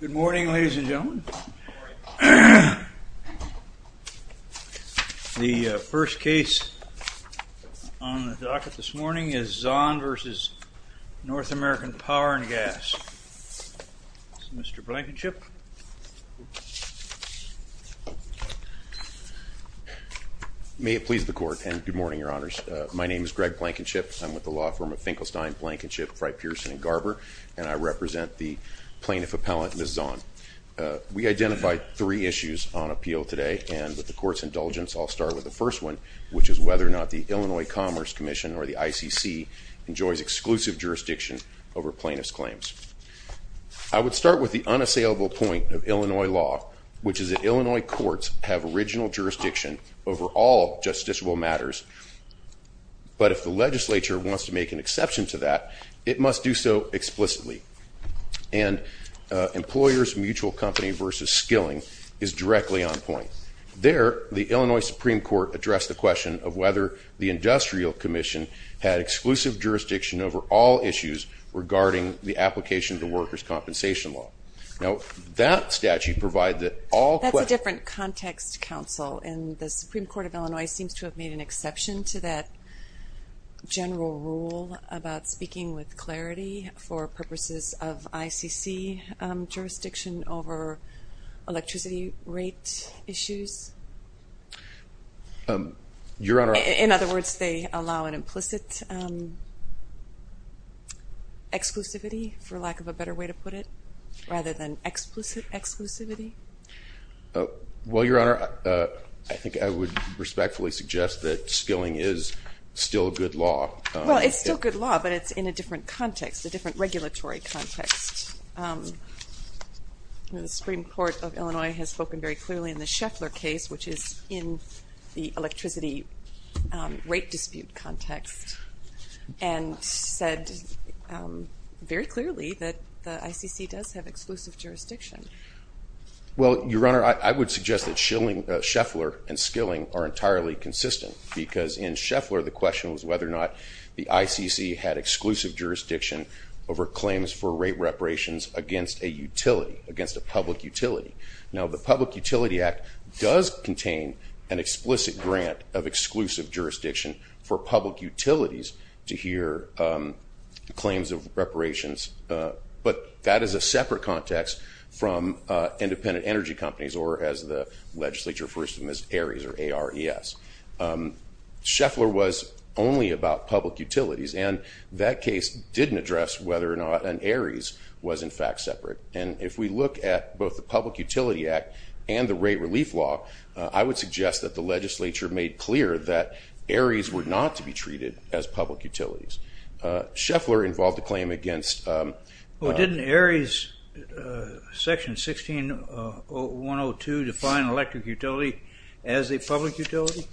Good morning, ladies and gentlemen. The first case on the docket this morning is Zahn v. North American Power & Gas. Mr. Blankenship. May it please the Court, and good morning, Your Honors. My name is Greg Blankenship. I'm with the law firm of Finkelstein, Blankenship, Frey, Pearson, and Garber, and I represent the plaintiff appellant, Ms. Zahn. We identified three issues on appeal today, and with the Court's indulgence, I'll start with the first one, which is whether or not the Illinois Commerce Commission or the ICC enjoys exclusive jurisdiction over plaintiff's claims. I would start with the unassailable point of Illinois law, which is that Illinois courts have original jurisdiction over all justiciable matters, but if the legislature wants to make an exception to that, it must do so explicitly, and employers' mutual company v. skilling is directly on point. There, the Illinois Supreme Court addressed the question of whether the industrial commission had exclusive jurisdiction over all issues regarding the application of the workers' compensation law. Now, that statute provides that all- That's a different context, counsel, and the about speaking with clarity for purposes of ICC jurisdiction over electricity rate issues? Your Honor- In other words, they allow an implicit exclusivity, for lack of a better way to put it, rather than explicit exclusivity? Well, Your Honor, I think I would respectfully suggest that skilling is still a good law. Well, it's still good law, but it's in a different context, a different regulatory context. The Supreme Court of Illinois has spoken very clearly in the Scheffler case, which is in the electricity rate dispute context, and said very clearly that the ICC does have exclusive jurisdiction. Well, Your Honor, I would suggest that Scheffler and skilling are entirely consistent, because in Scheffler, the question was whether or not the ICC had exclusive jurisdiction over claims for rate reparations against a utility, against a public utility. Now, the Public Utility Act does contain an explicit grant of exclusive jurisdiction for public utilities to hear claims of reparations, but that is a separate context from independent energy companies, or as the legislature refers to them as ARIES, or A-R-E-S. Scheffler was only about public utilities, and that case didn't address whether or not an ARIES was, in fact, separate. And if we look at both the Public Utility Act and the rate relief law, I would suggest that the legislature made clear that ARIES were not to be treated as public utilities. Scheffler involved a claim against- Well, didn't ARIES section 16-102 define an electric utility as a public utility?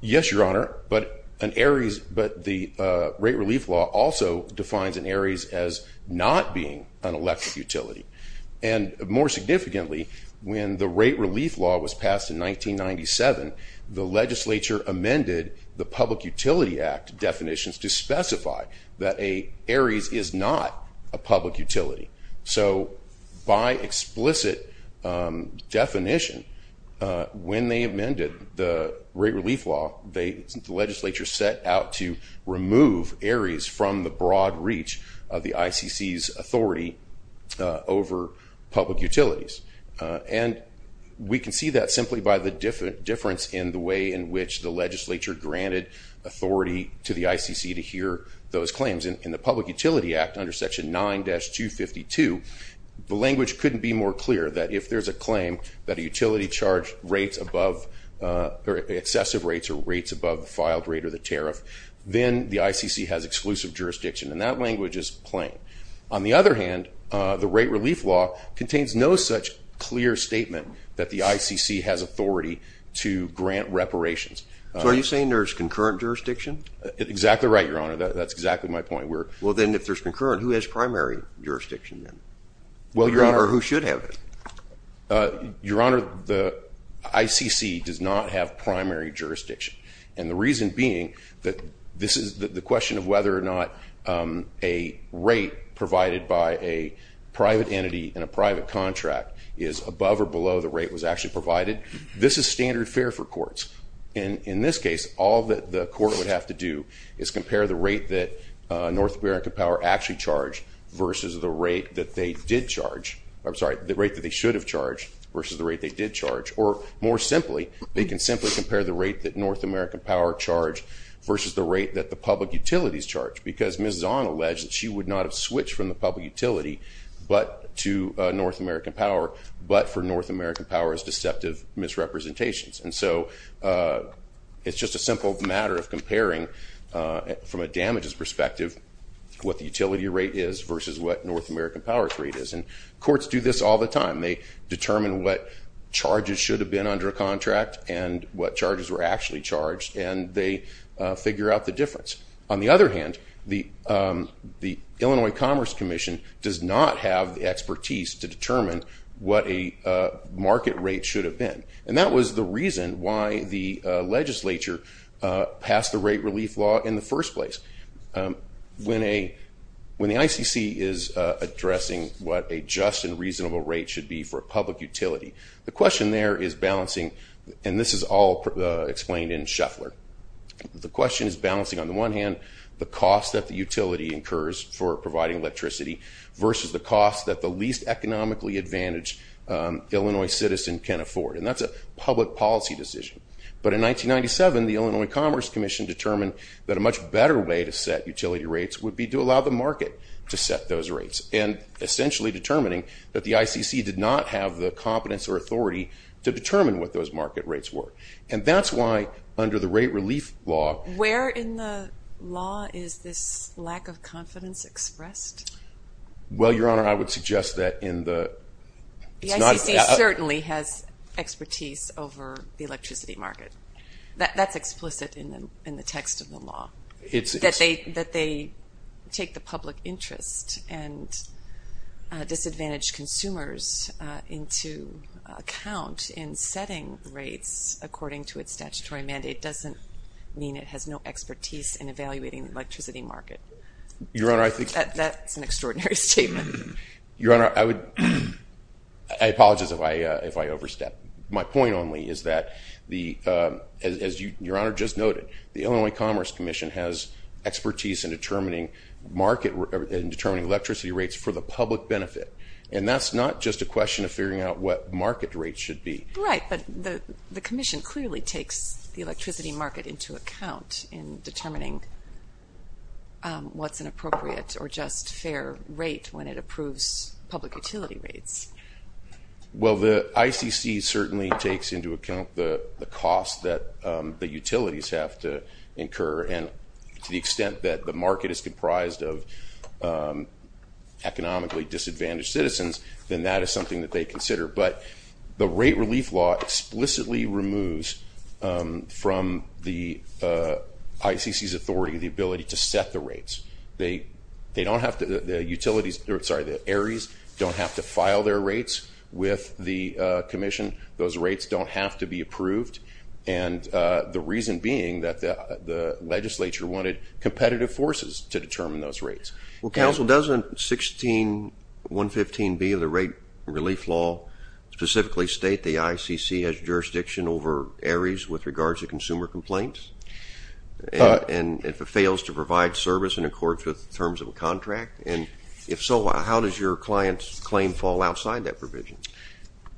Yes, Your Honor, but an ARIES, but the rate relief law also defines an ARIES as not being an electric utility. And more significantly, when the rate relief law was passed in 1997, the legislature amended the Public Utility Act definitions to specify that an ARIES is not a public utility. So by explicit definition, when they amended the rate relief law, the legislature set out to remove ARIES from the broad reach of the ICC's authority over public utilities. And we can see that simply by the difference in the way in which the legislature granted authority to the ICC to hear those claims. In the Public Utility Act, under section 9-252, the language couldn't be more clear that if there's a claim that a utility charged rates above, or excessive rates, or rates above the filed rate or the tariff, then the ICC has exclusive jurisdiction, and that language is plain. On the other hand, the rate relief law contains no such clear statement that the ICC has authority to grant reparations. So are you saying there's concurrent jurisdiction? Exactly right, Your Honor. That's exactly my point. Well then, if there's concurrent, who has primary jurisdiction then? Well, Your Honor. Or who should have it? Your Honor, the ICC does not have primary jurisdiction. And the reason being that this is the question of whether or not a rate provided by a private entity in a private contract is above or below the rate was actually provided. This is standard fare for courts. In this case, all that the court would have to do is compare the rate that North America Power actually charged versus the rate that they did charge, I'm sorry, the rate that they should have charged versus the rate they did charge. Or more simply, they can simply compare the rate that North American Power charged versus the rate that the public utilities charged. Because Ms. Zahn alleged that she would not have switched from the public utility to North American Power, but for North American Power's deceptive misrepresentations. And so it's just a simple matter of comparing, from a damages perspective, what the utility rate is versus what North American Power's rate is. And courts do this all the time. They determine what charges should have been under a contract and what charges were actually charged, and they figure out the difference. On the other hand, the Illinois Commerce Commission does not have the expertise to determine what a market rate should have been. And that was the reason why the legislature passed the rate relief law in the first place. When the ICC is addressing what a just and reasonable rate should be for a public utility, the question there is balancing, and this is all explained in Shuffler, the question is balancing on the one hand, the cost that the utility incurs for providing electricity versus the cost that the least economically advantaged Illinois citizen can afford. And that's a public policy decision. But in 1997, the Illinois Commerce Commission determined that a much better way to set utility rates would be to allow the market to set those rates, and essentially determining that the ICC did not have the competence or authority to determine what those market rates were. And that's why, under the rate relief law... Where in the law is this lack of confidence expressed? Well, Your Honor, I would suggest that in the... The ICC certainly has expertise over the electricity market. That's explicit in the text of the law. That they take the public interest and disadvantaged consumers into account in setting rates according to its statutory mandate doesn't mean it has no expertise in evaluating the electricity market. Your Honor, I think... That's an extraordinary statement. Your Honor, I would... I apologize if I overstepped. My point only is that, as Your Honor just noted, the Illinois Commerce Commission has expertise in determining electricity rates for the public benefit. And that's not just a question of figuring out what market rates should be. Right. But the commission clearly takes the electricity market into account in determining what's an appropriate or just fair rate when it approves public utility rates. Well, the ICC certainly takes into account the cost that the utilities have to incur. And to the extent that the market is comprised of economically disadvantaged citizens, then that is something that they consider. But the rate relief law explicitly removes from the ICC's authority the ability to set the rates. They don't have to... The utilities... Sorry, the ARIES don't have to file their rates with the commission. Those rates don't have to be approved. And the reason being that the legislature wanted competitive forces to determine those rates. Well, counsel, doesn't 16.115B of the rate relief law specifically state the ICC has jurisdiction over ARIES with regards to consumer complaints? And if it fails to provide service in accordance with the terms of a contract? And if so, how does your client's claim fall outside that provision?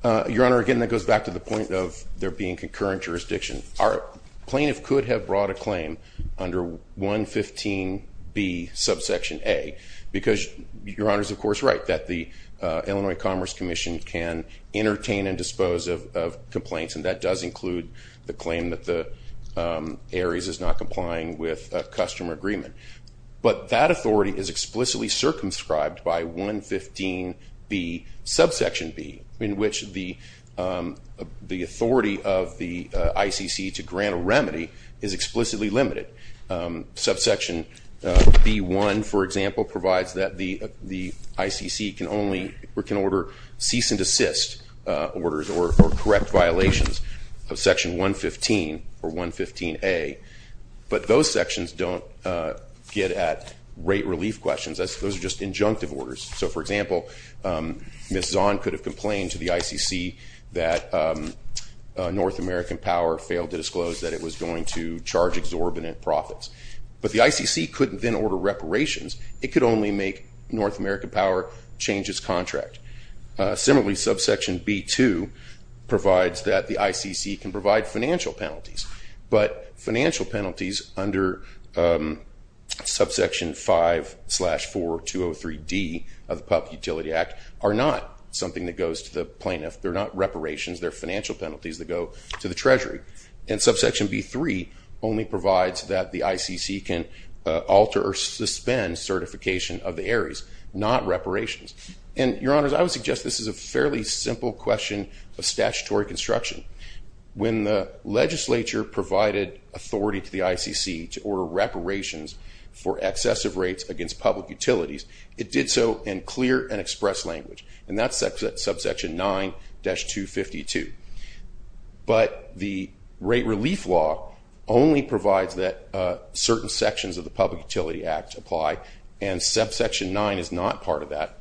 Your Honor, again, that goes back to the point of there being concurrent jurisdiction. Our plaintiff could have brought a claim under 115B subsection A, because Your Honor is of course right that the Illinois Commerce Commission can entertain and dispose of complaints. And that does include the claim that the ARIES is not complying with a customer agreement. But that authority is explicitly circumscribed by 115B subsection B, in which the authority of the ICC to grant a remedy is explicitly limited. Subsection B1, for example, provides that the ICC can only... or correct violations of section 115 or 115A. But those sections don't get at rate relief questions, those are just injunctive orders. So for example, Ms. Zahn could have complained to the ICC that North American Power failed to disclose that it was going to charge exorbitant profits. But the ICC couldn't then order reparations, it could only make North American Power change its contract. Similarly, subsection B2 provides that the ICC can provide financial penalties. But financial penalties under subsection 5 slash 4203D of the PUP Utility Act are not something that goes to the plaintiff, they're not reparations, they're financial penalties that go to the Treasury. And subsection B3 only provides that the ICC can alter or suspend certification of the ARIES, not reparations. And, Your Honors, I would suggest this is a fairly simple question of statutory construction. When the legislature provided authority to the ICC to order reparations for excessive rates against public utilities, it did so in clear and express language. And that's subsection 9-252. But the rate relief law only provides that certain sections of the PUP Utility Act apply, and subsection 9 is not part of that.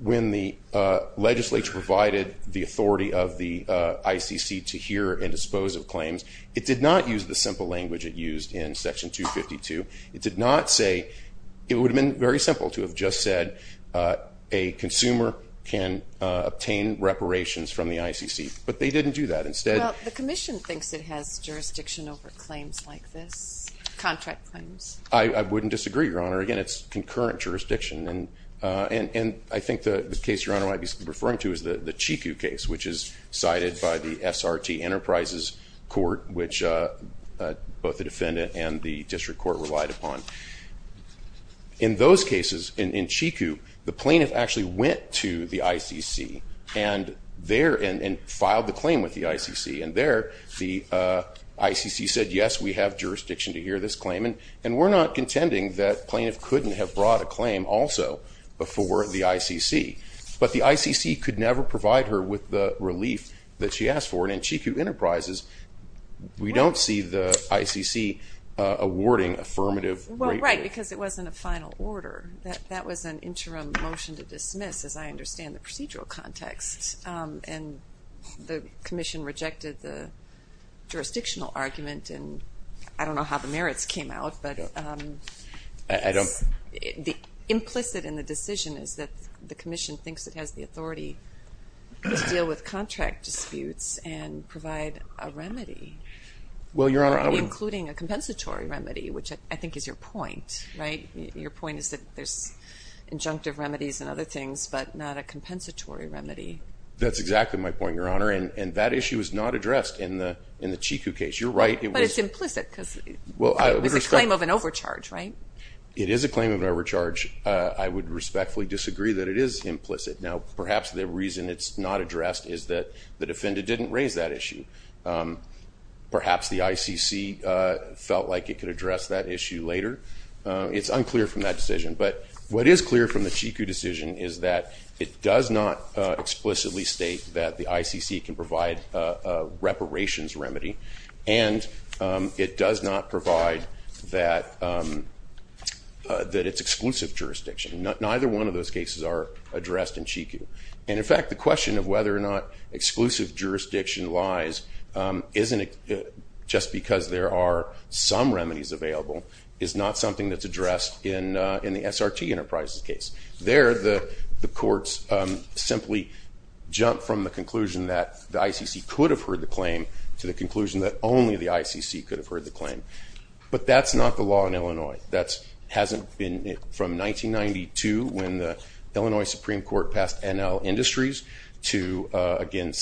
When the legislature provided the authority of the ICC to hear and dispose of claims, it did not use the simple language it used in section 252. It did not say, it would have been very simple to have just said, a consumer can obtain reparations from the ICC. But they didn't do that. Instead- Well, the commission thinks it has jurisdiction over claims like this, contract claims. I wouldn't disagree, Your Honor. Again, it's concurrent jurisdiction. And I think the case Your Honor might be referring to is the Chiku case, which is cited by the SRT Enterprises Court, which both the defendant and the district court relied upon. In those cases, in Chiku, the plaintiff actually went to the ICC and there, and filed the claim with the ICC. And there, the ICC said, yes, we have jurisdiction to hear this claim. And we're not contending that plaintiff couldn't have brought a claim also before the ICC. But the ICC could never provide her with the relief that she asked for. And in Chiku Enterprises, we don't see the ICC awarding affirmative- Well, right, because it wasn't a final order. That was an interim motion to dismiss, as I understand the procedural context. And the commission rejected the jurisdictional argument. And I don't know how the merits came out, but the implicit in the decision is that the commission thinks it has the authority to deal with contract disputes and provide a remedy. Well, Your Honor, I would- Or including a compensatory remedy, which I think is your point, right? Your point is that there's injunctive remedies and other things, but not a compensatory remedy. That's exactly my point, Your Honor. And that issue is not addressed in the Chiku case. You're right, it was- But it's implicit, because it was a claim of an overcharge, right? It is a claim of an overcharge. I would respectfully disagree that it is implicit. Now, perhaps the reason it's not addressed is that the defendant didn't raise that issue. Perhaps the ICC felt like it could address that issue later. It's unclear from that decision. But what is clear from the Chiku decision is that it does not explicitly state that the ICC can provide a reparations remedy, and it does not provide that it's exclusive jurisdiction. Neither one of those cases are addressed in Chiku. And in fact, the question of whether or not exclusive jurisdiction lies isn't just because there are some remedies available, it's not something that's addressed in the SRT Enterprises case. There, the courts simply jump from the conclusion that the ICC could have heard the claim to the conclusion that only the ICC could have heard the claim. But that's not the law in Illinois. That hasn't been- From 1992, when the Illinois Supreme Court passed NL Industries, to again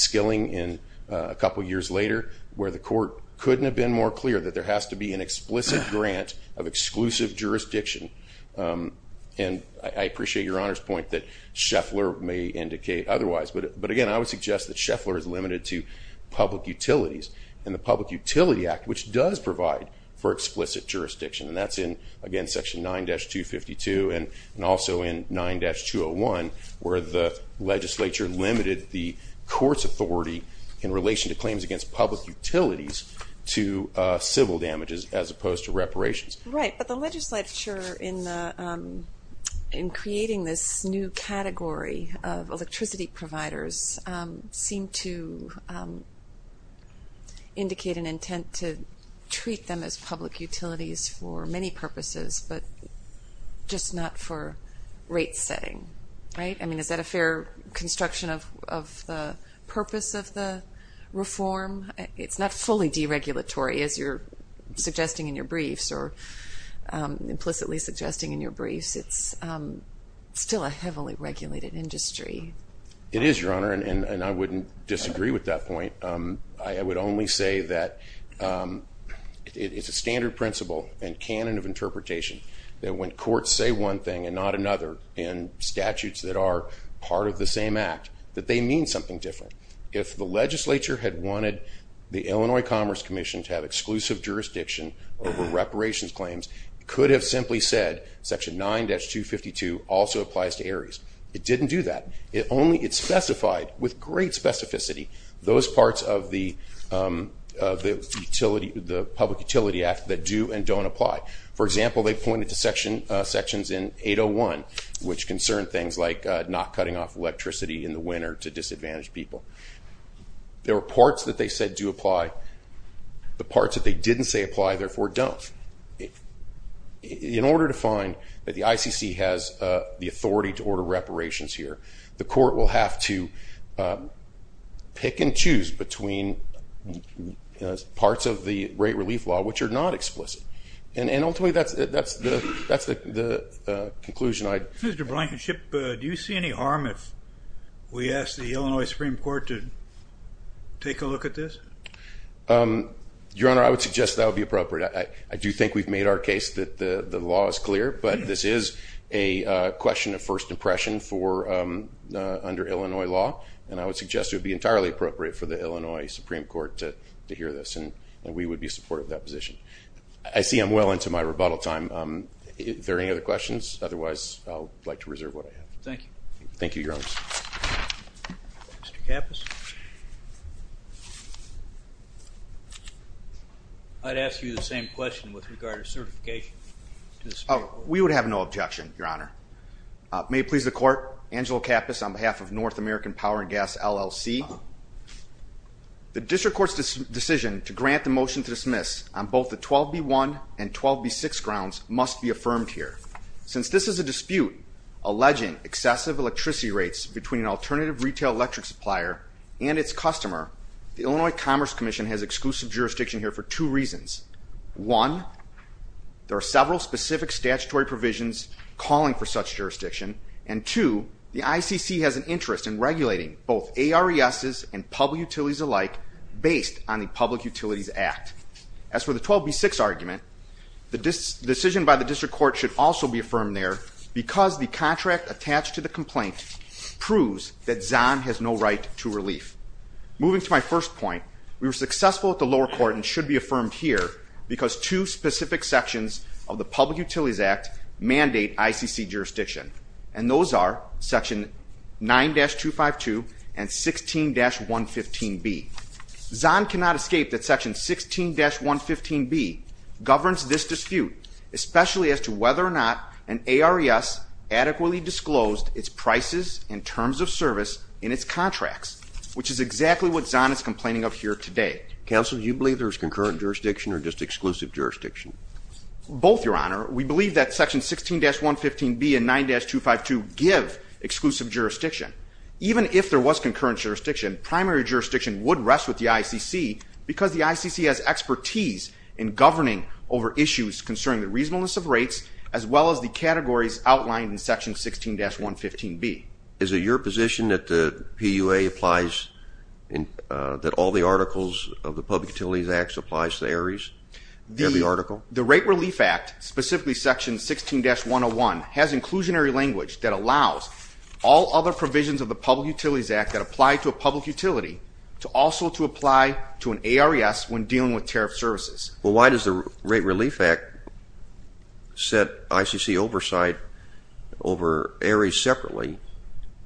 a couple years later, where the court couldn't have been more clear that there has to be an explicit grant of exclusive jurisdiction. And I appreciate Your Honor's point that Scheffler may indicate otherwise. But again, I would suggest that Scheffler is limited to public utilities, and the Public Utility Act, which does provide for explicit jurisdiction, and that's in, again, Section 9-252, and also in 9-201, where the legislature limited the court's authority in relation to claims against public utilities to civil damages, as opposed to reparations. Right. But the legislature, in creating this new category of electricity providers, seemed to indicate an intent to treat them as public utilities for many purposes, but just not for rate setting. Right? I mean, is that a fair construction of the purpose of the reform? It's not fully deregulatory, as you're suggesting in your briefs, or implicitly suggesting in your briefs. It is, Your Honor. And I wouldn't disagree with that point. I would only say that it's a standard principle and canon of interpretation that when courts say one thing and not another in statutes that are part of the same act, that they mean something different. If the legislature had wanted the Illinois Commerce Commission to have exclusive jurisdiction over reparations claims, it could have simply said, Section 9-252 also applies to ARIES. It didn't do that. It only specified, with great specificity, those parts of the Public Utility Act that do and don't apply. For example, they pointed to sections in 801, which concern things like not cutting off electricity in the winter to disadvantaged people. There are parts that they said do apply. The parts that they didn't say apply, therefore, don't. In order to find that the ICC has the authority to order reparations here, the court will have to pick and choose between parts of the rate relief law which are not explicit. And ultimately, that's the conclusion I'd— Mr. Blankenship, do you see any harm if we ask the Illinois Supreme Court to take a look at this? Your Honor, I would suggest that would be appropriate. I do think we've made our case that the law is clear, but this is a question of first impression for—under Illinois law, and I would suggest it would be entirely appropriate for the Illinois Supreme Court to hear this, and we would be supportive of that position. I see I'm well into my rebuttal time. If there are any other questions, otherwise, I'd like to reserve what I have. Thank you. Thank you, Your Honor. Mr. Kappas? I'd ask you the same question with regard to certification. We would have no objection, Your Honor. May it please the court, Angelo Kappas on behalf of North American Power and Gas, LLC. The district court's decision to grant the motion to dismiss on both the 12B1 and 12B6 grounds must be affirmed here. Since this is a dispute alleging excessive electricity rates between an alternative retail electric supplier and its customer, the Illinois Commerce Commission has exclusive jurisdiction here for two reasons. One, there are several specific statutory provisions calling for such jurisdiction, and two, the ICC has an interest in regulating both ARESs and public utilities alike based on the Public Utilities Act. As for the 12B6 argument, the decision by the district court should also be affirmed there because the contract attached to the complaint proves that Zahn has no right to relief. Moving to my first point, we were successful at the lower court and should be affirmed here because two specific sections of the Public Utilities Act mandate ICC jurisdiction, and those are section 9-252 and 16-115B. Zahn cannot escape that section 16-115B governs this dispute, especially as to whether or not an ARES adequately disclosed its prices and terms of service in its contracts, which is exactly what Zahn is complaining of here today. Counsel, do you believe there is concurrent jurisdiction or just exclusive jurisdiction? Both, Your Honor. We believe that section 16-115B and 9-252 give exclusive jurisdiction. Even if there was concurrent jurisdiction, primary jurisdiction would rest with the ICC because the ICC has expertise in governing over issues concerning the reasonableness of rates as well as the categories outlined in section 16-115B. Is it your position that the PUA applies, that all the articles of the Public Utilities Act applies to ARES in the article? The Rate Relief Act, specifically section 16-101, has inclusionary language that allows all other provisions of the Public Utilities Act that apply to a public utility also to apply to an ARES when dealing with tariff services. Well, why does the Rate Relief Act set ICC oversight over ARES separately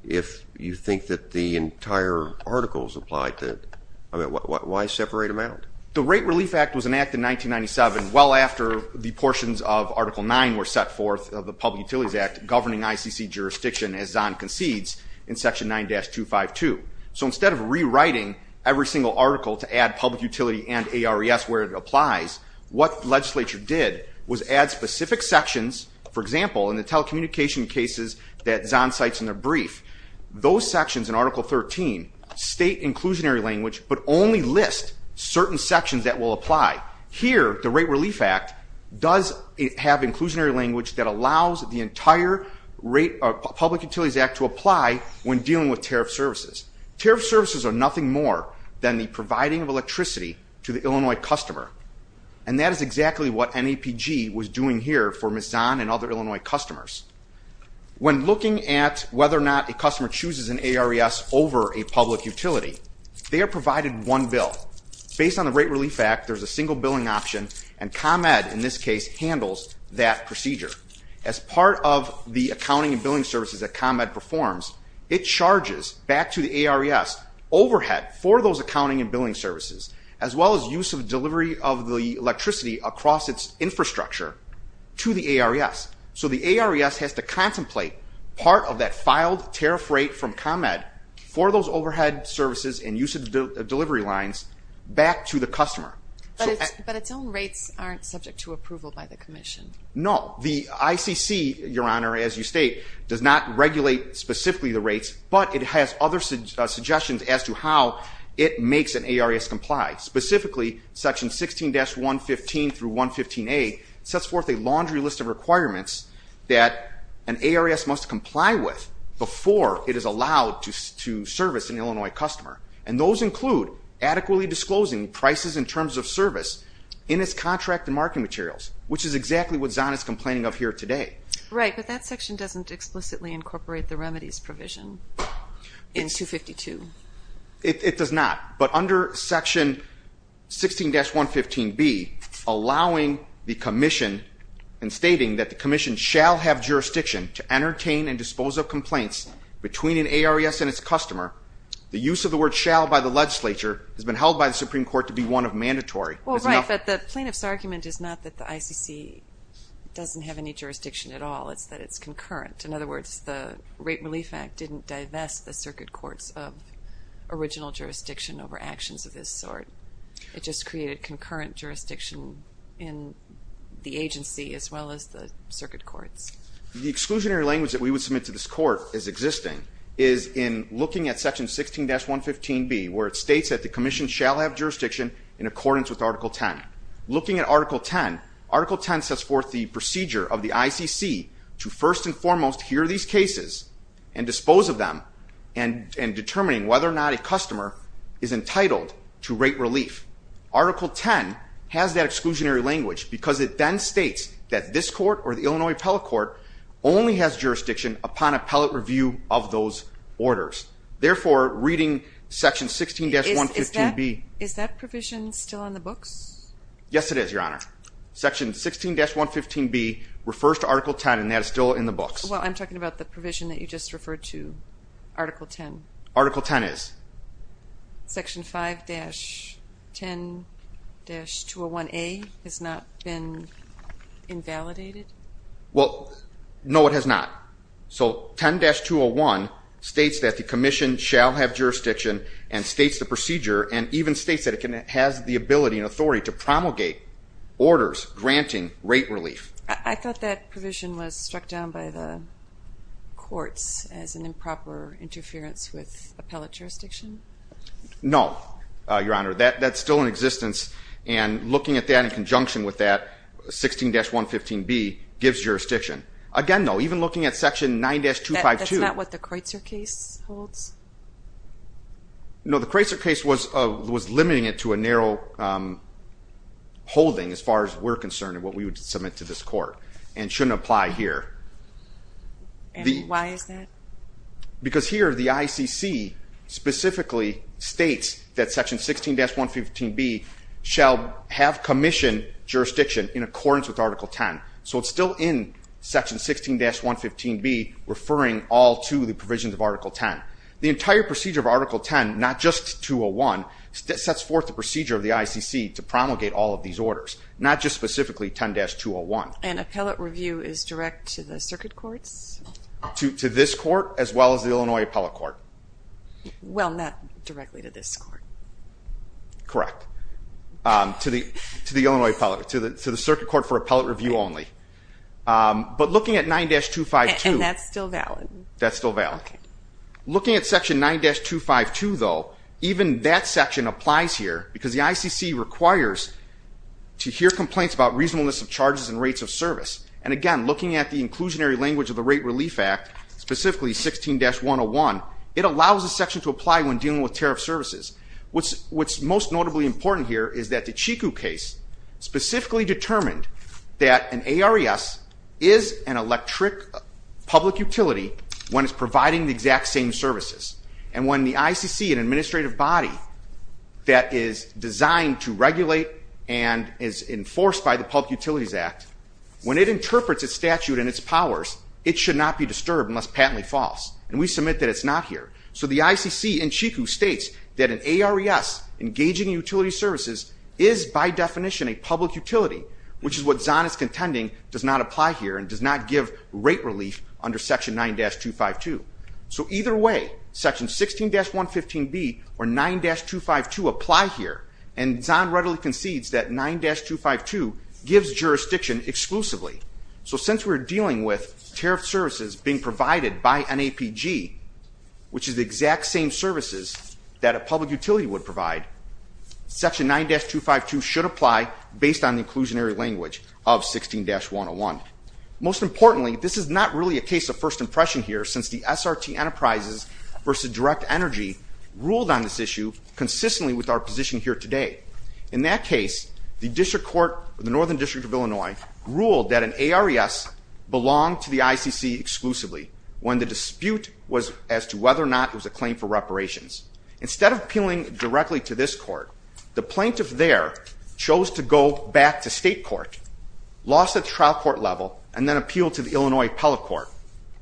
if you think that the entire article is applied to it? Why separate them out? The Rate Relief Act was enacted in 1997, well after the portions of Article 9 were set forth of the Public Utilities Act governing ICC jurisdiction as Zahn concedes in section 9-252. So instead of rewriting every single article to add public utility and ARES where it applies, what the legislature did was add specific sections, for example, in the telecommunication cases that Zahn cites in the brief. Those sections in Article 13 state inclusionary language but only list certain sections that will apply. Here, the Rate Relief Act does have inclusionary language that allows the entire Public Utilities Act to apply when dealing with tariff services. Tariff services are nothing more than the providing of electricity to the Illinois customer and that is exactly what NAPG was doing here for Ms. Zahn and other Illinois customers. When looking at whether or not a customer chooses an ARES over a public utility, they are provided one bill. Based on the Rate Relief Act, there's a single billing option and ComEd, in this case, handles that procedure. As part of the accounting and billing services that ComEd performs, it charges back to the ARES overhead for those accounting and billing services as well as use of delivery of the electricity across its infrastructure to the ARES. So the ARES has to contemplate part of that filed tariff rate from ComEd for those overhead services and use of delivery lines back to the customer. But its own rates aren't subject to approval by the Commission? No. The ICC, Your Honor, as you state, does not regulate specifically the rates, but it has other suggestions as to how it makes an ARES comply, specifically Section 16-115 through 115A sets forth a laundry list of requirements that an ARES must comply with before it is allowed to service an Illinois customer and those include adequately disclosing prices in terms of service in its contract and marketing materials, which is exactly what Zahn is complaining of here today. Right, but that section doesn't explicitly incorporate the remedies provision in 252. It does not. But under Section 16-115B, allowing the Commission and stating that the Commission shall have jurisdiction to entertain and dispose of complaints between an ARES and its customer, the use of the word shall by the legislature has been held by the Supreme Court to be one of mandatory. Well, right, but the plaintiff's argument is not that the ICC doesn't have any jurisdiction at all. It's that it's concurrent. In other words, the Rape Relief Act didn't divest the circuit courts of original jurisdiction over actions of this sort. It just created concurrent jurisdiction in the agency as well as the circuit courts. The exclusionary language that we would submit to this Court as existing is in looking at Section 16-115B, where it states that the Commission shall have jurisdiction in accordance with Article 10. Looking at Article 10, Article 10 sets forth the procedure of the ICC to first and foremost hear these cases and dispose of them and determining whether or not a customer is entitled to Rape Relief. Article 10 has that exclusionary language because it then states that this Court or the Illinois Appellate Court only has jurisdiction upon appellate review of those orders. Therefore, reading Section 16-115B... Is that provision still on the books? Yes, it is, Your Honor. Section 16-115B refers to Article 10 and that is still in the books. Well, I'm talking about the provision that you just referred to, Article 10. Article 10 is. Section 5-10-201A has not been invalidated? Well, no, it has not. So Article 10-201 states that the Commission shall have jurisdiction and states the procedure and even states that it has the ability and authority to promulgate orders granting Rape Relief. I thought that provision was struck down by the courts as an improper interference with appellate jurisdiction? No, Your Honor. That's still in existence and looking at that in conjunction with that, Section 16-115B gives jurisdiction. Again, though, even looking at Section 9-252... That's not what the Kreutzer case holds? No, the Kreutzer case was limiting it to a narrow holding as far as we're concerned and what we would submit to this Court and shouldn't apply here. Why is that? Because here, the ICC specifically states that Section 16-115B shall have Commission jurisdiction in accordance with Article 10, so it's still in Section 16-115B referring all to the provisions of Article 10. The entire procedure of Article 10, not just 201, sets forth the procedure of the ICC to promulgate all of these orders, not just specifically 10-201. And appellate review is direct to the circuit courts? To this Court as well as the Illinois Appellate Court. Well, not directly to this Court. Correct. To the circuit court for appellate review only. But looking at 9-252... And that's still valid? That's still valid. Okay. Looking at Section 9-252, though, even that section applies here because the ICC requires to hear complaints about reasonableness of charges and rates of service. And again, looking at the inclusionary language of the Rate Relief Act, specifically 16-101, it allows a section to apply when dealing with tariff services. What's most notably important here is that the Chiku case specifically determined that an ARES is an electric public utility when it's providing the exact same services. And when the ICC, an administrative body that is designed to regulate and is enforced by the Public Utilities Act, when it interprets its statute and its powers, it should not be disturbed unless patently false. And we submit that it's not here. So the ICC in Chiku states that an ARES, engaging utility services, is by definition a public utility, which is what Zahn is contending does not apply here and does not give rate relief under Section 9-252. So either way, Section 16-115B or 9-252 apply here, and Zahn readily concedes that 9-252 gives jurisdiction exclusively. So since we're dealing with tariff services being provided by NAPG, which is the exact same services that a public utility would provide, Section 9-252 should apply based on the inclusionary language of 16-101. Most importantly, this is not really a case of first impression here since the SRT Enterprises versus Direct Energy ruled on this issue consistently with our position here today. In that case, the district court, the Northern District of Illinois, ruled that an ARES belonged to the ICC exclusively when the dispute was as to whether or not it was a claim for reparations. Instead of appealing directly to this court, the plaintiff there chose to go back to state court, lost at the trial court level, and then appealed to the Illinois appellate court.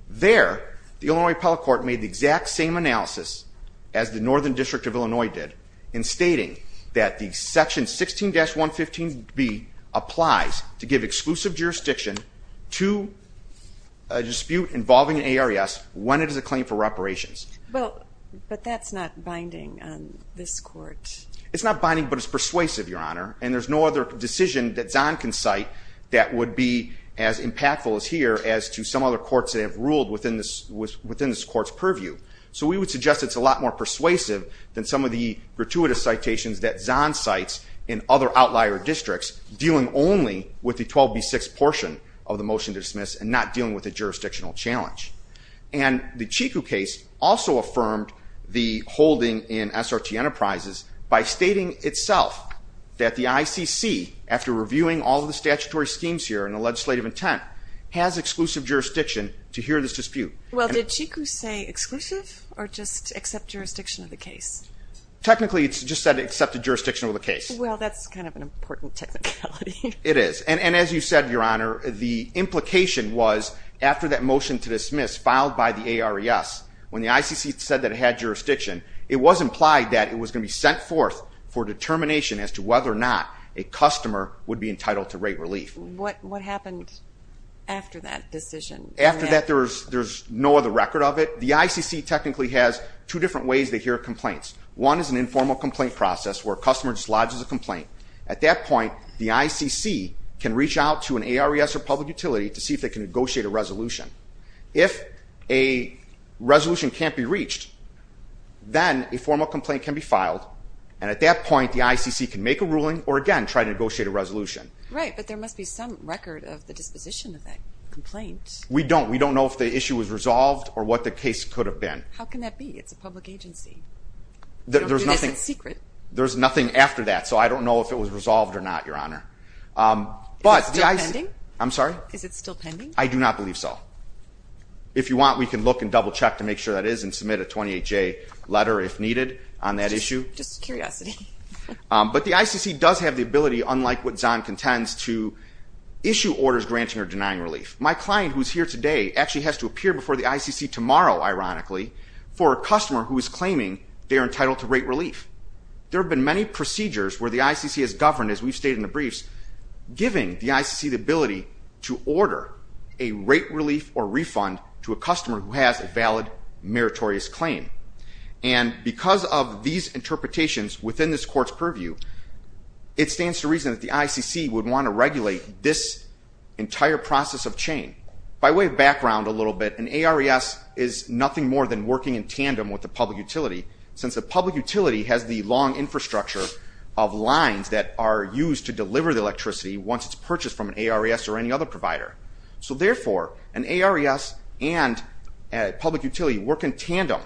There the Illinois appellate court made the exact same analysis as the Northern District of Illinois did in stating that the Section 16-115B applies to give exclusive jurisdiction to a dispute involving an ARES when it is a claim for reparations. But that's not binding on this court. It's not binding, but it's persuasive, Your Honor. And there's no other decision that Zahn can cite that would be as impactful as here as to some other courts that have ruled within this court's purview. So we would suggest it's a lot more persuasive than some of the gratuitous citations that Zahn cites in other outlier districts dealing only with the 12B6 portion of the motion to dismiss and not dealing with the jurisdictional challenge. And the Chiku case also affirmed the holding in SRT Enterprises by stating itself that the ICC, after reviewing all of the statutory schemes here and the legislative intent, has exclusive jurisdiction to hear this dispute. Well, did Chiku say exclusive or just accept jurisdiction of the case? Technically, it just said it accepted jurisdiction of the case. Well, that's kind of an important technicality. It is. And as you said, Your Honor, the implication was after that motion to dismiss filed by the ARES, when the ICC said that it had jurisdiction, it was implied that it was going to be sent forth for determination as to whether or not a customer would be entitled to rate relief. What happened after that decision? After that, there's no other record of it. The ICC technically has two different ways they hear complaints. One is an informal complaint process where a customer just lodges a complaint. At that point, the ICC can reach out to an ARES or public utility to see if they can negotiate a resolution. If a resolution can't be reached, then a formal complaint can be filed, and at that point, the ICC can make a ruling or, again, try to negotiate a resolution. Right, but there must be some record of the disposition of that complaint. We don't. We don't know if the issue was resolved or what the case could have been. How can that be? It's a public agency. You don't do this in secret. There's nothing after that, so I don't know if it was resolved or not, Your Honor. Is it still pending? I'm sorry? Is it still pending? I do not believe so. If you want, we can look and double-check to make sure that is and submit a 28-J letter if needed on that issue. Just curiosity. But the ICC does have the ability, unlike what Zahn contends, to issue orders granting or denying relief. My client, who is here today, actually has to appear before the ICC tomorrow, ironically, for a customer who is claiming they are entitled to rate relief. There have been many procedures where the ICC has governed, as we've stated in the briefs, giving the ICC the ability to order a rate relief or refund to a customer who has a valid meritorious claim. And because of these interpretations within this court's purview, it stands to reason that the ICC would want to regulate this entire process of chain. By way of background a little bit, an ARES is nothing more than working in tandem with the public utility, since the public utility has the long infrastructure of lines that are used to deliver the electricity once it's purchased from an ARES or any other provider. So therefore, an ARES and a public utility work in tandem.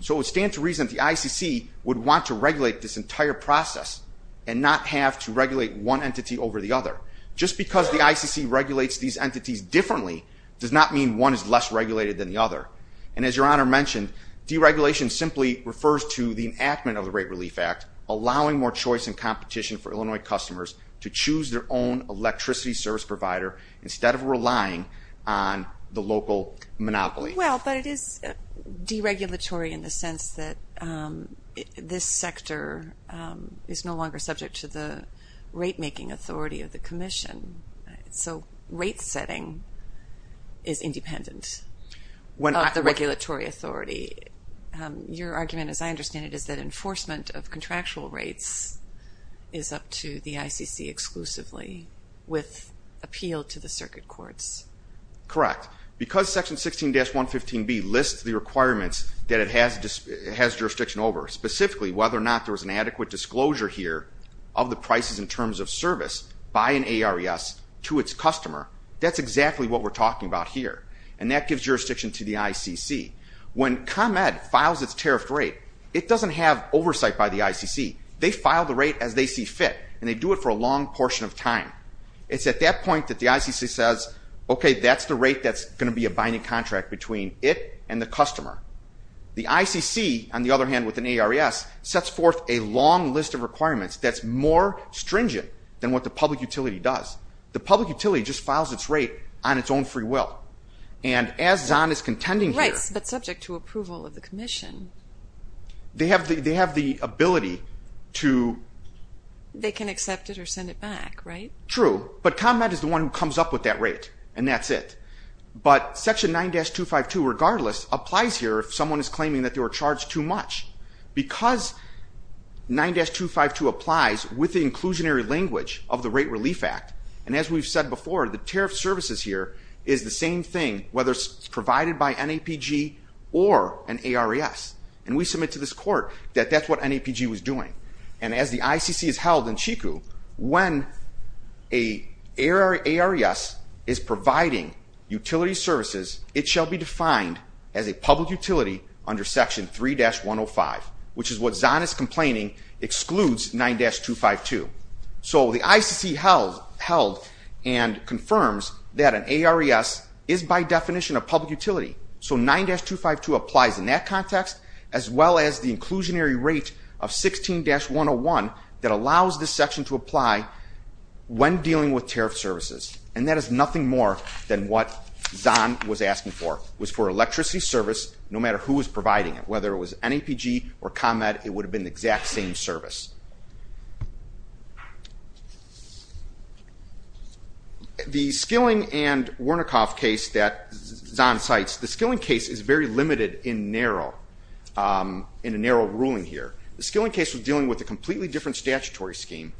So it stands to reason the ICC would want to regulate this entire process and not have to regulate one entity over the other. Just because the ICC regulates these entities differently does not mean one is less regulated than the other. And as Your Honor mentioned, deregulation simply refers to the enactment of the Rate Relief Act, allowing more choice and competition for Illinois customers to choose their own electricity service provider instead of relying on the local monopoly. Well, but it is deregulatory in the sense that this sector is no longer subject to the rate-making authority of the Commission. So rate setting is independent of the regulatory authority. Your argument, as I understand it, is that enforcement of contractual rates is up to the ICC exclusively with appeal to the circuit courts. Correct. Correct. Because Section 16-115B lists the requirements that it has jurisdiction over, specifically whether or not there was an adequate disclosure here of the prices in terms of service by an ARES to its customer, that's exactly what we're talking about here. And that gives jurisdiction to the ICC. When ComEd files its tariff rate, it doesn't have oversight by the ICC. They file the rate as they see fit, and they do it for a long portion of time. It's at that point that the ICC says, okay, that's the rate that's going to be a binding contract between it and the customer. The ICC, on the other hand, with an ARES, sets forth a long list of requirements that's more stringent than what the public utility does. The public utility just files its rate on its own free will. And as Zahn is contending here... Right, but subject to approval of the Commission. They have the ability to... They can accept it or send it back, right? True, but ComEd is the one who comes up with that rate, and that's it. But Section 9-252, regardless, applies here if someone is claiming that they were charged too much, because 9-252 applies with the inclusionary language of the Rate Relief Act. And as we've said before, the tariff services here is the same thing, whether it's provided by NAPG or an ARES. And we submit to this court that that's what NAPG was doing. And as the ICC has held in Chico, when an ARES is providing utility services, it shall be defined as a public utility under Section 3-105, which is what Zahn is complaining excludes 9-252. So the ICC held and confirms that an ARES is by definition a public utility. So 9-252 applies in that context, as well as the inclusionary rate of 16-101 that allows this section to apply when dealing with tariff services. And that is nothing more than what Zahn was asking for, was for electricity service, no matter who was providing it, whether it was NAPG or ComEd, it would have been the exact same service. The Skilling and Wernickehoff case that Zahn cites, the Skilling case is very limited in narrow, in a narrow ruling here. The Skilling case was dealing with a completely different statutory scheme,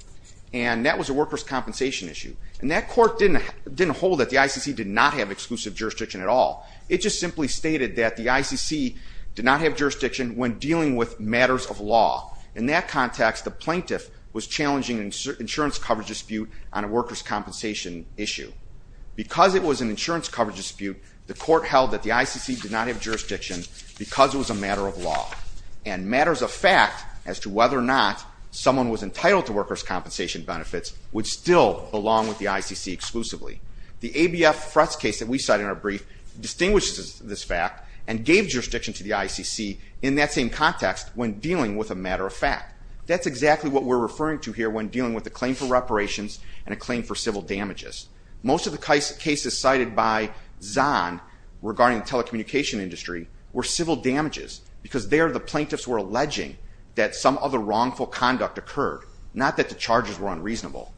and that was a workers' compensation issue. And that court didn't hold that the ICC did not have exclusive jurisdiction at all. It just simply stated that the ICC did not have jurisdiction when dealing with matters of law. In that context, the plaintiff was challenging an insurance coverage dispute on a workers' compensation issue. Because it was an insurance coverage dispute, the court held that the ICC did not have jurisdiction because it was a matter of law. And matters of fact as to whether or not someone was entitled to workers' compensation benefits would still belong with the ICC exclusively. The ABF Fretz case that we cite in our brief distinguishes this fact and gave jurisdiction to the ICC in that same context when dealing with a matter of fact. That's exactly what we're referring to here when dealing with a claim for reparations and a claim for civil damages. Most of the cases cited by Zahn regarding telecommunication industry were civil damages because there the plaintiffs were alleging that some other wrongful conduct occurred, not that the charges were unreasonable.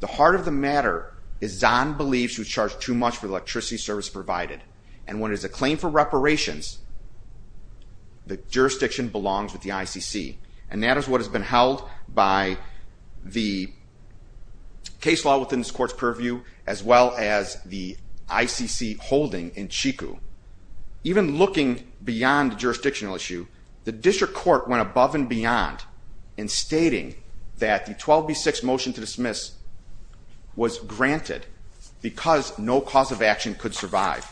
The heart of the matter is Zahn believes he was charged too much for the electricity service provided. And when it is a claim for reparations, the jurisdiction belongs with the ICC. And that is what has been held by the case law within this court's purview as well as the ICC holding in Chico. Even looking beyond the jurisdictional issue, the district court went above and beyond in stating that the 12B6 motion to dismiss was granted because no cause of action could have survived.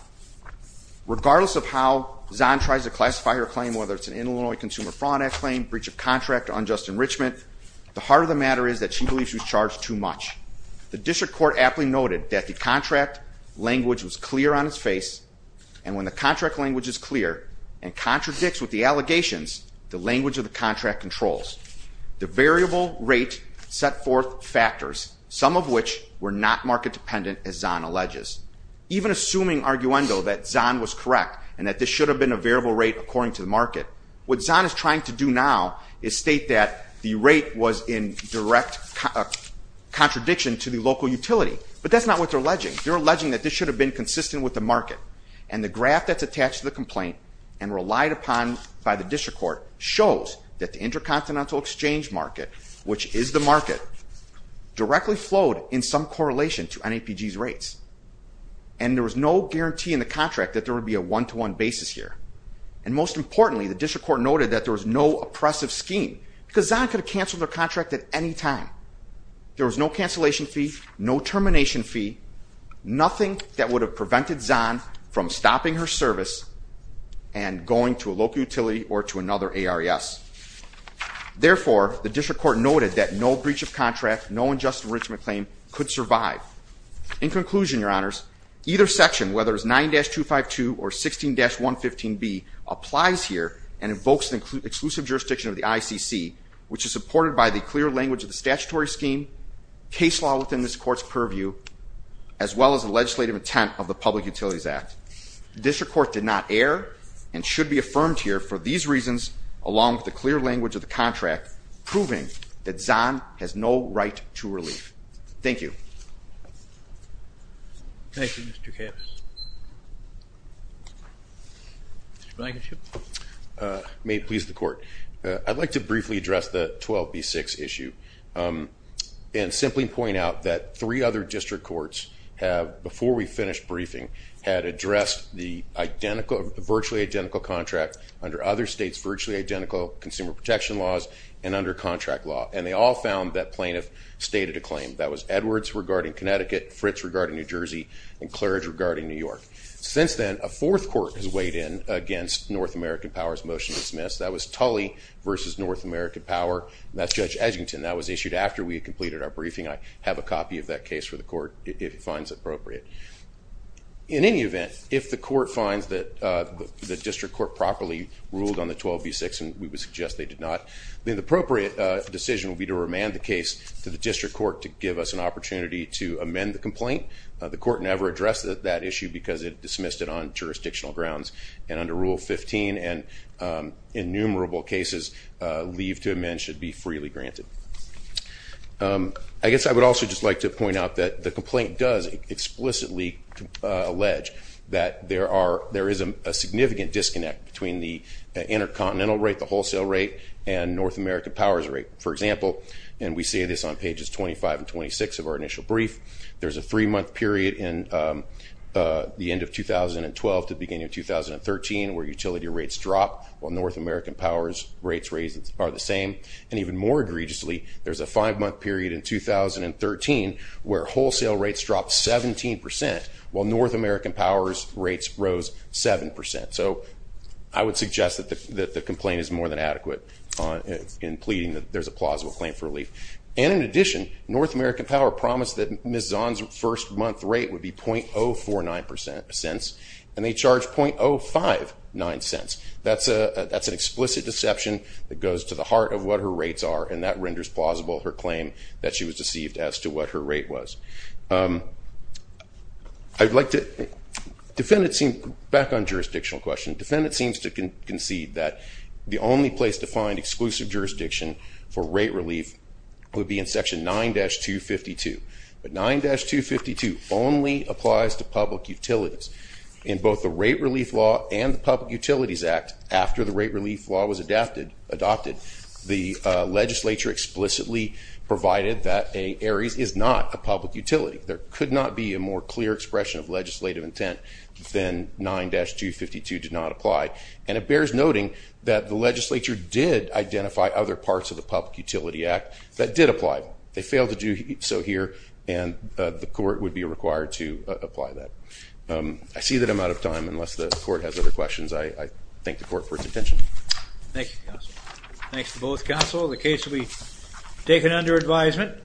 Regardless of how Zahn tries to classify her claim, whether it's an Illinois Consumer Fraud Act claim, breach of contract, unjust enrichment, the heart of the matter is that she believes she was charged too much. The district court aptly noted that the contract language was clear on its face, and when the contract language is clear and contradicts with the allegations, the language of the contract controls. The variable rate set forth factors, some of which were not market-dependent, as Zahn alleges. Even assuming, arguendo, that Zahn was correct and that this should have been a variable rate according to the market, what Zahn is trying to do now is state that the rate was in direct contradiction to the local utility. But that's not what they're alleging. They're alleging that this should have been consistent with the market. And the graph that's attached to the complaint and relied upon by the district court shows that the intercontinental exchange market, which is the market, directly flowed in some correlation to NAPG's rates. And there was no guarantee in the contract that there would be a one-to-one basis here. And most importantly, the district court noted that there was no oppressive scheme, because Zahn could have canceled their contract at any time. There was no cancellation fee, no termination fee, nothing that would have prevented Zahn from stopping her service and going to a local utility or to another ARES. Therefore, the district court noted that no breach of contract, no unjust enrichment claim could survive. In conclusion, your honors, either section, whether it's 9-252 or 16-115B, applies here and invokes the exclusive jurisdiction of the ICC, which is supported by the clear language of the statutory scheme, case law within this court's purview, as well as the legislative intent of the Public Utilities Act. The district court did not err and should be affirmed here for these reasons, along with the clear language of the contract proving that Zahn has no right to relief. Thank you. Thank you, Mr. Kappas. Mr. Blankenship. May it please the court, I'd like to briefly address the 12B6 issue and simply point out that three other district courts have, before we finished briefing, had addressed the virtually identical contract under other states' virtually identical consumer protection laws and under contract law. And they all found that plaintiff stated a claim. That was Edwards regarding Connecticut, Fritz regarding New Jersey, and Clurge regarding New York. Since then, a fourth court has weighed in against North American Power's motion to dismiss. That was Tully versus North American Power. That's Judge Edgington. That was issued after we had completed our briefing. I have a copy of that case for the court, if it finds appropriate. In any event, if the court finds that the district court properly ruled on the 12B6, and we would suggest they did not, then the appropriate decision would be to remand the case to the district court to give us an opportunity to amend the complaint. The court never addressed that issue because it dismissed it on jurisdictional grounds and under Rule 15, and innumerable cases leave to amend should be freely granted. I guess I would also just like to point out that the complaint does explicitly allege that there is a significant disconnect between the intercontinental rate, the wholesale rate, and North American Power's rate. For example, and we say this on pages 25 and 26 of our initial brief, there's a three-month period in the end of 2012 to the beginning of 2013 where utility rates drop, while North More egregiously, there's a five-month period in 2013 where wholesale rates dropped 17%, while North American Power's rates rose 7%. So I would suggest that the complaint is more than adequate in pleading that there's a plausible claim for relief. And in addition, North American Power promised that Ms. Zahn's first-month rate would be 0.049 cents, and they charged 0.059 cents. That's an explicit deception that goes to the heart of what her rates are, and that renders plausible her claim that she was deceived as to what her rate was. I would like to, defendant seems, back on jurisdictional question, defendant seems to concede that the only place to find exclusive jurisdiction for rate relief would be in Section 9-252. But 9-252 only applies to public utilities. In both the Rate Relief Law and the Public Utilities Act, after the Rate Relief Law was adopted, the legislature explicitly provided that Ares is not a public utility. There could not be a more clear expression of legislative intent than 9-252 did not apply. And it bears noting that the legislature did identify other parts of the Public Utility Act that did apply. They failed to do so here, and the court would be required to apply that. I see that I'm out of time. Unless the court has other questions, I thank the court for its attention. Thank you, counsel. Thanks to both counsel. The case will be taken under advisement.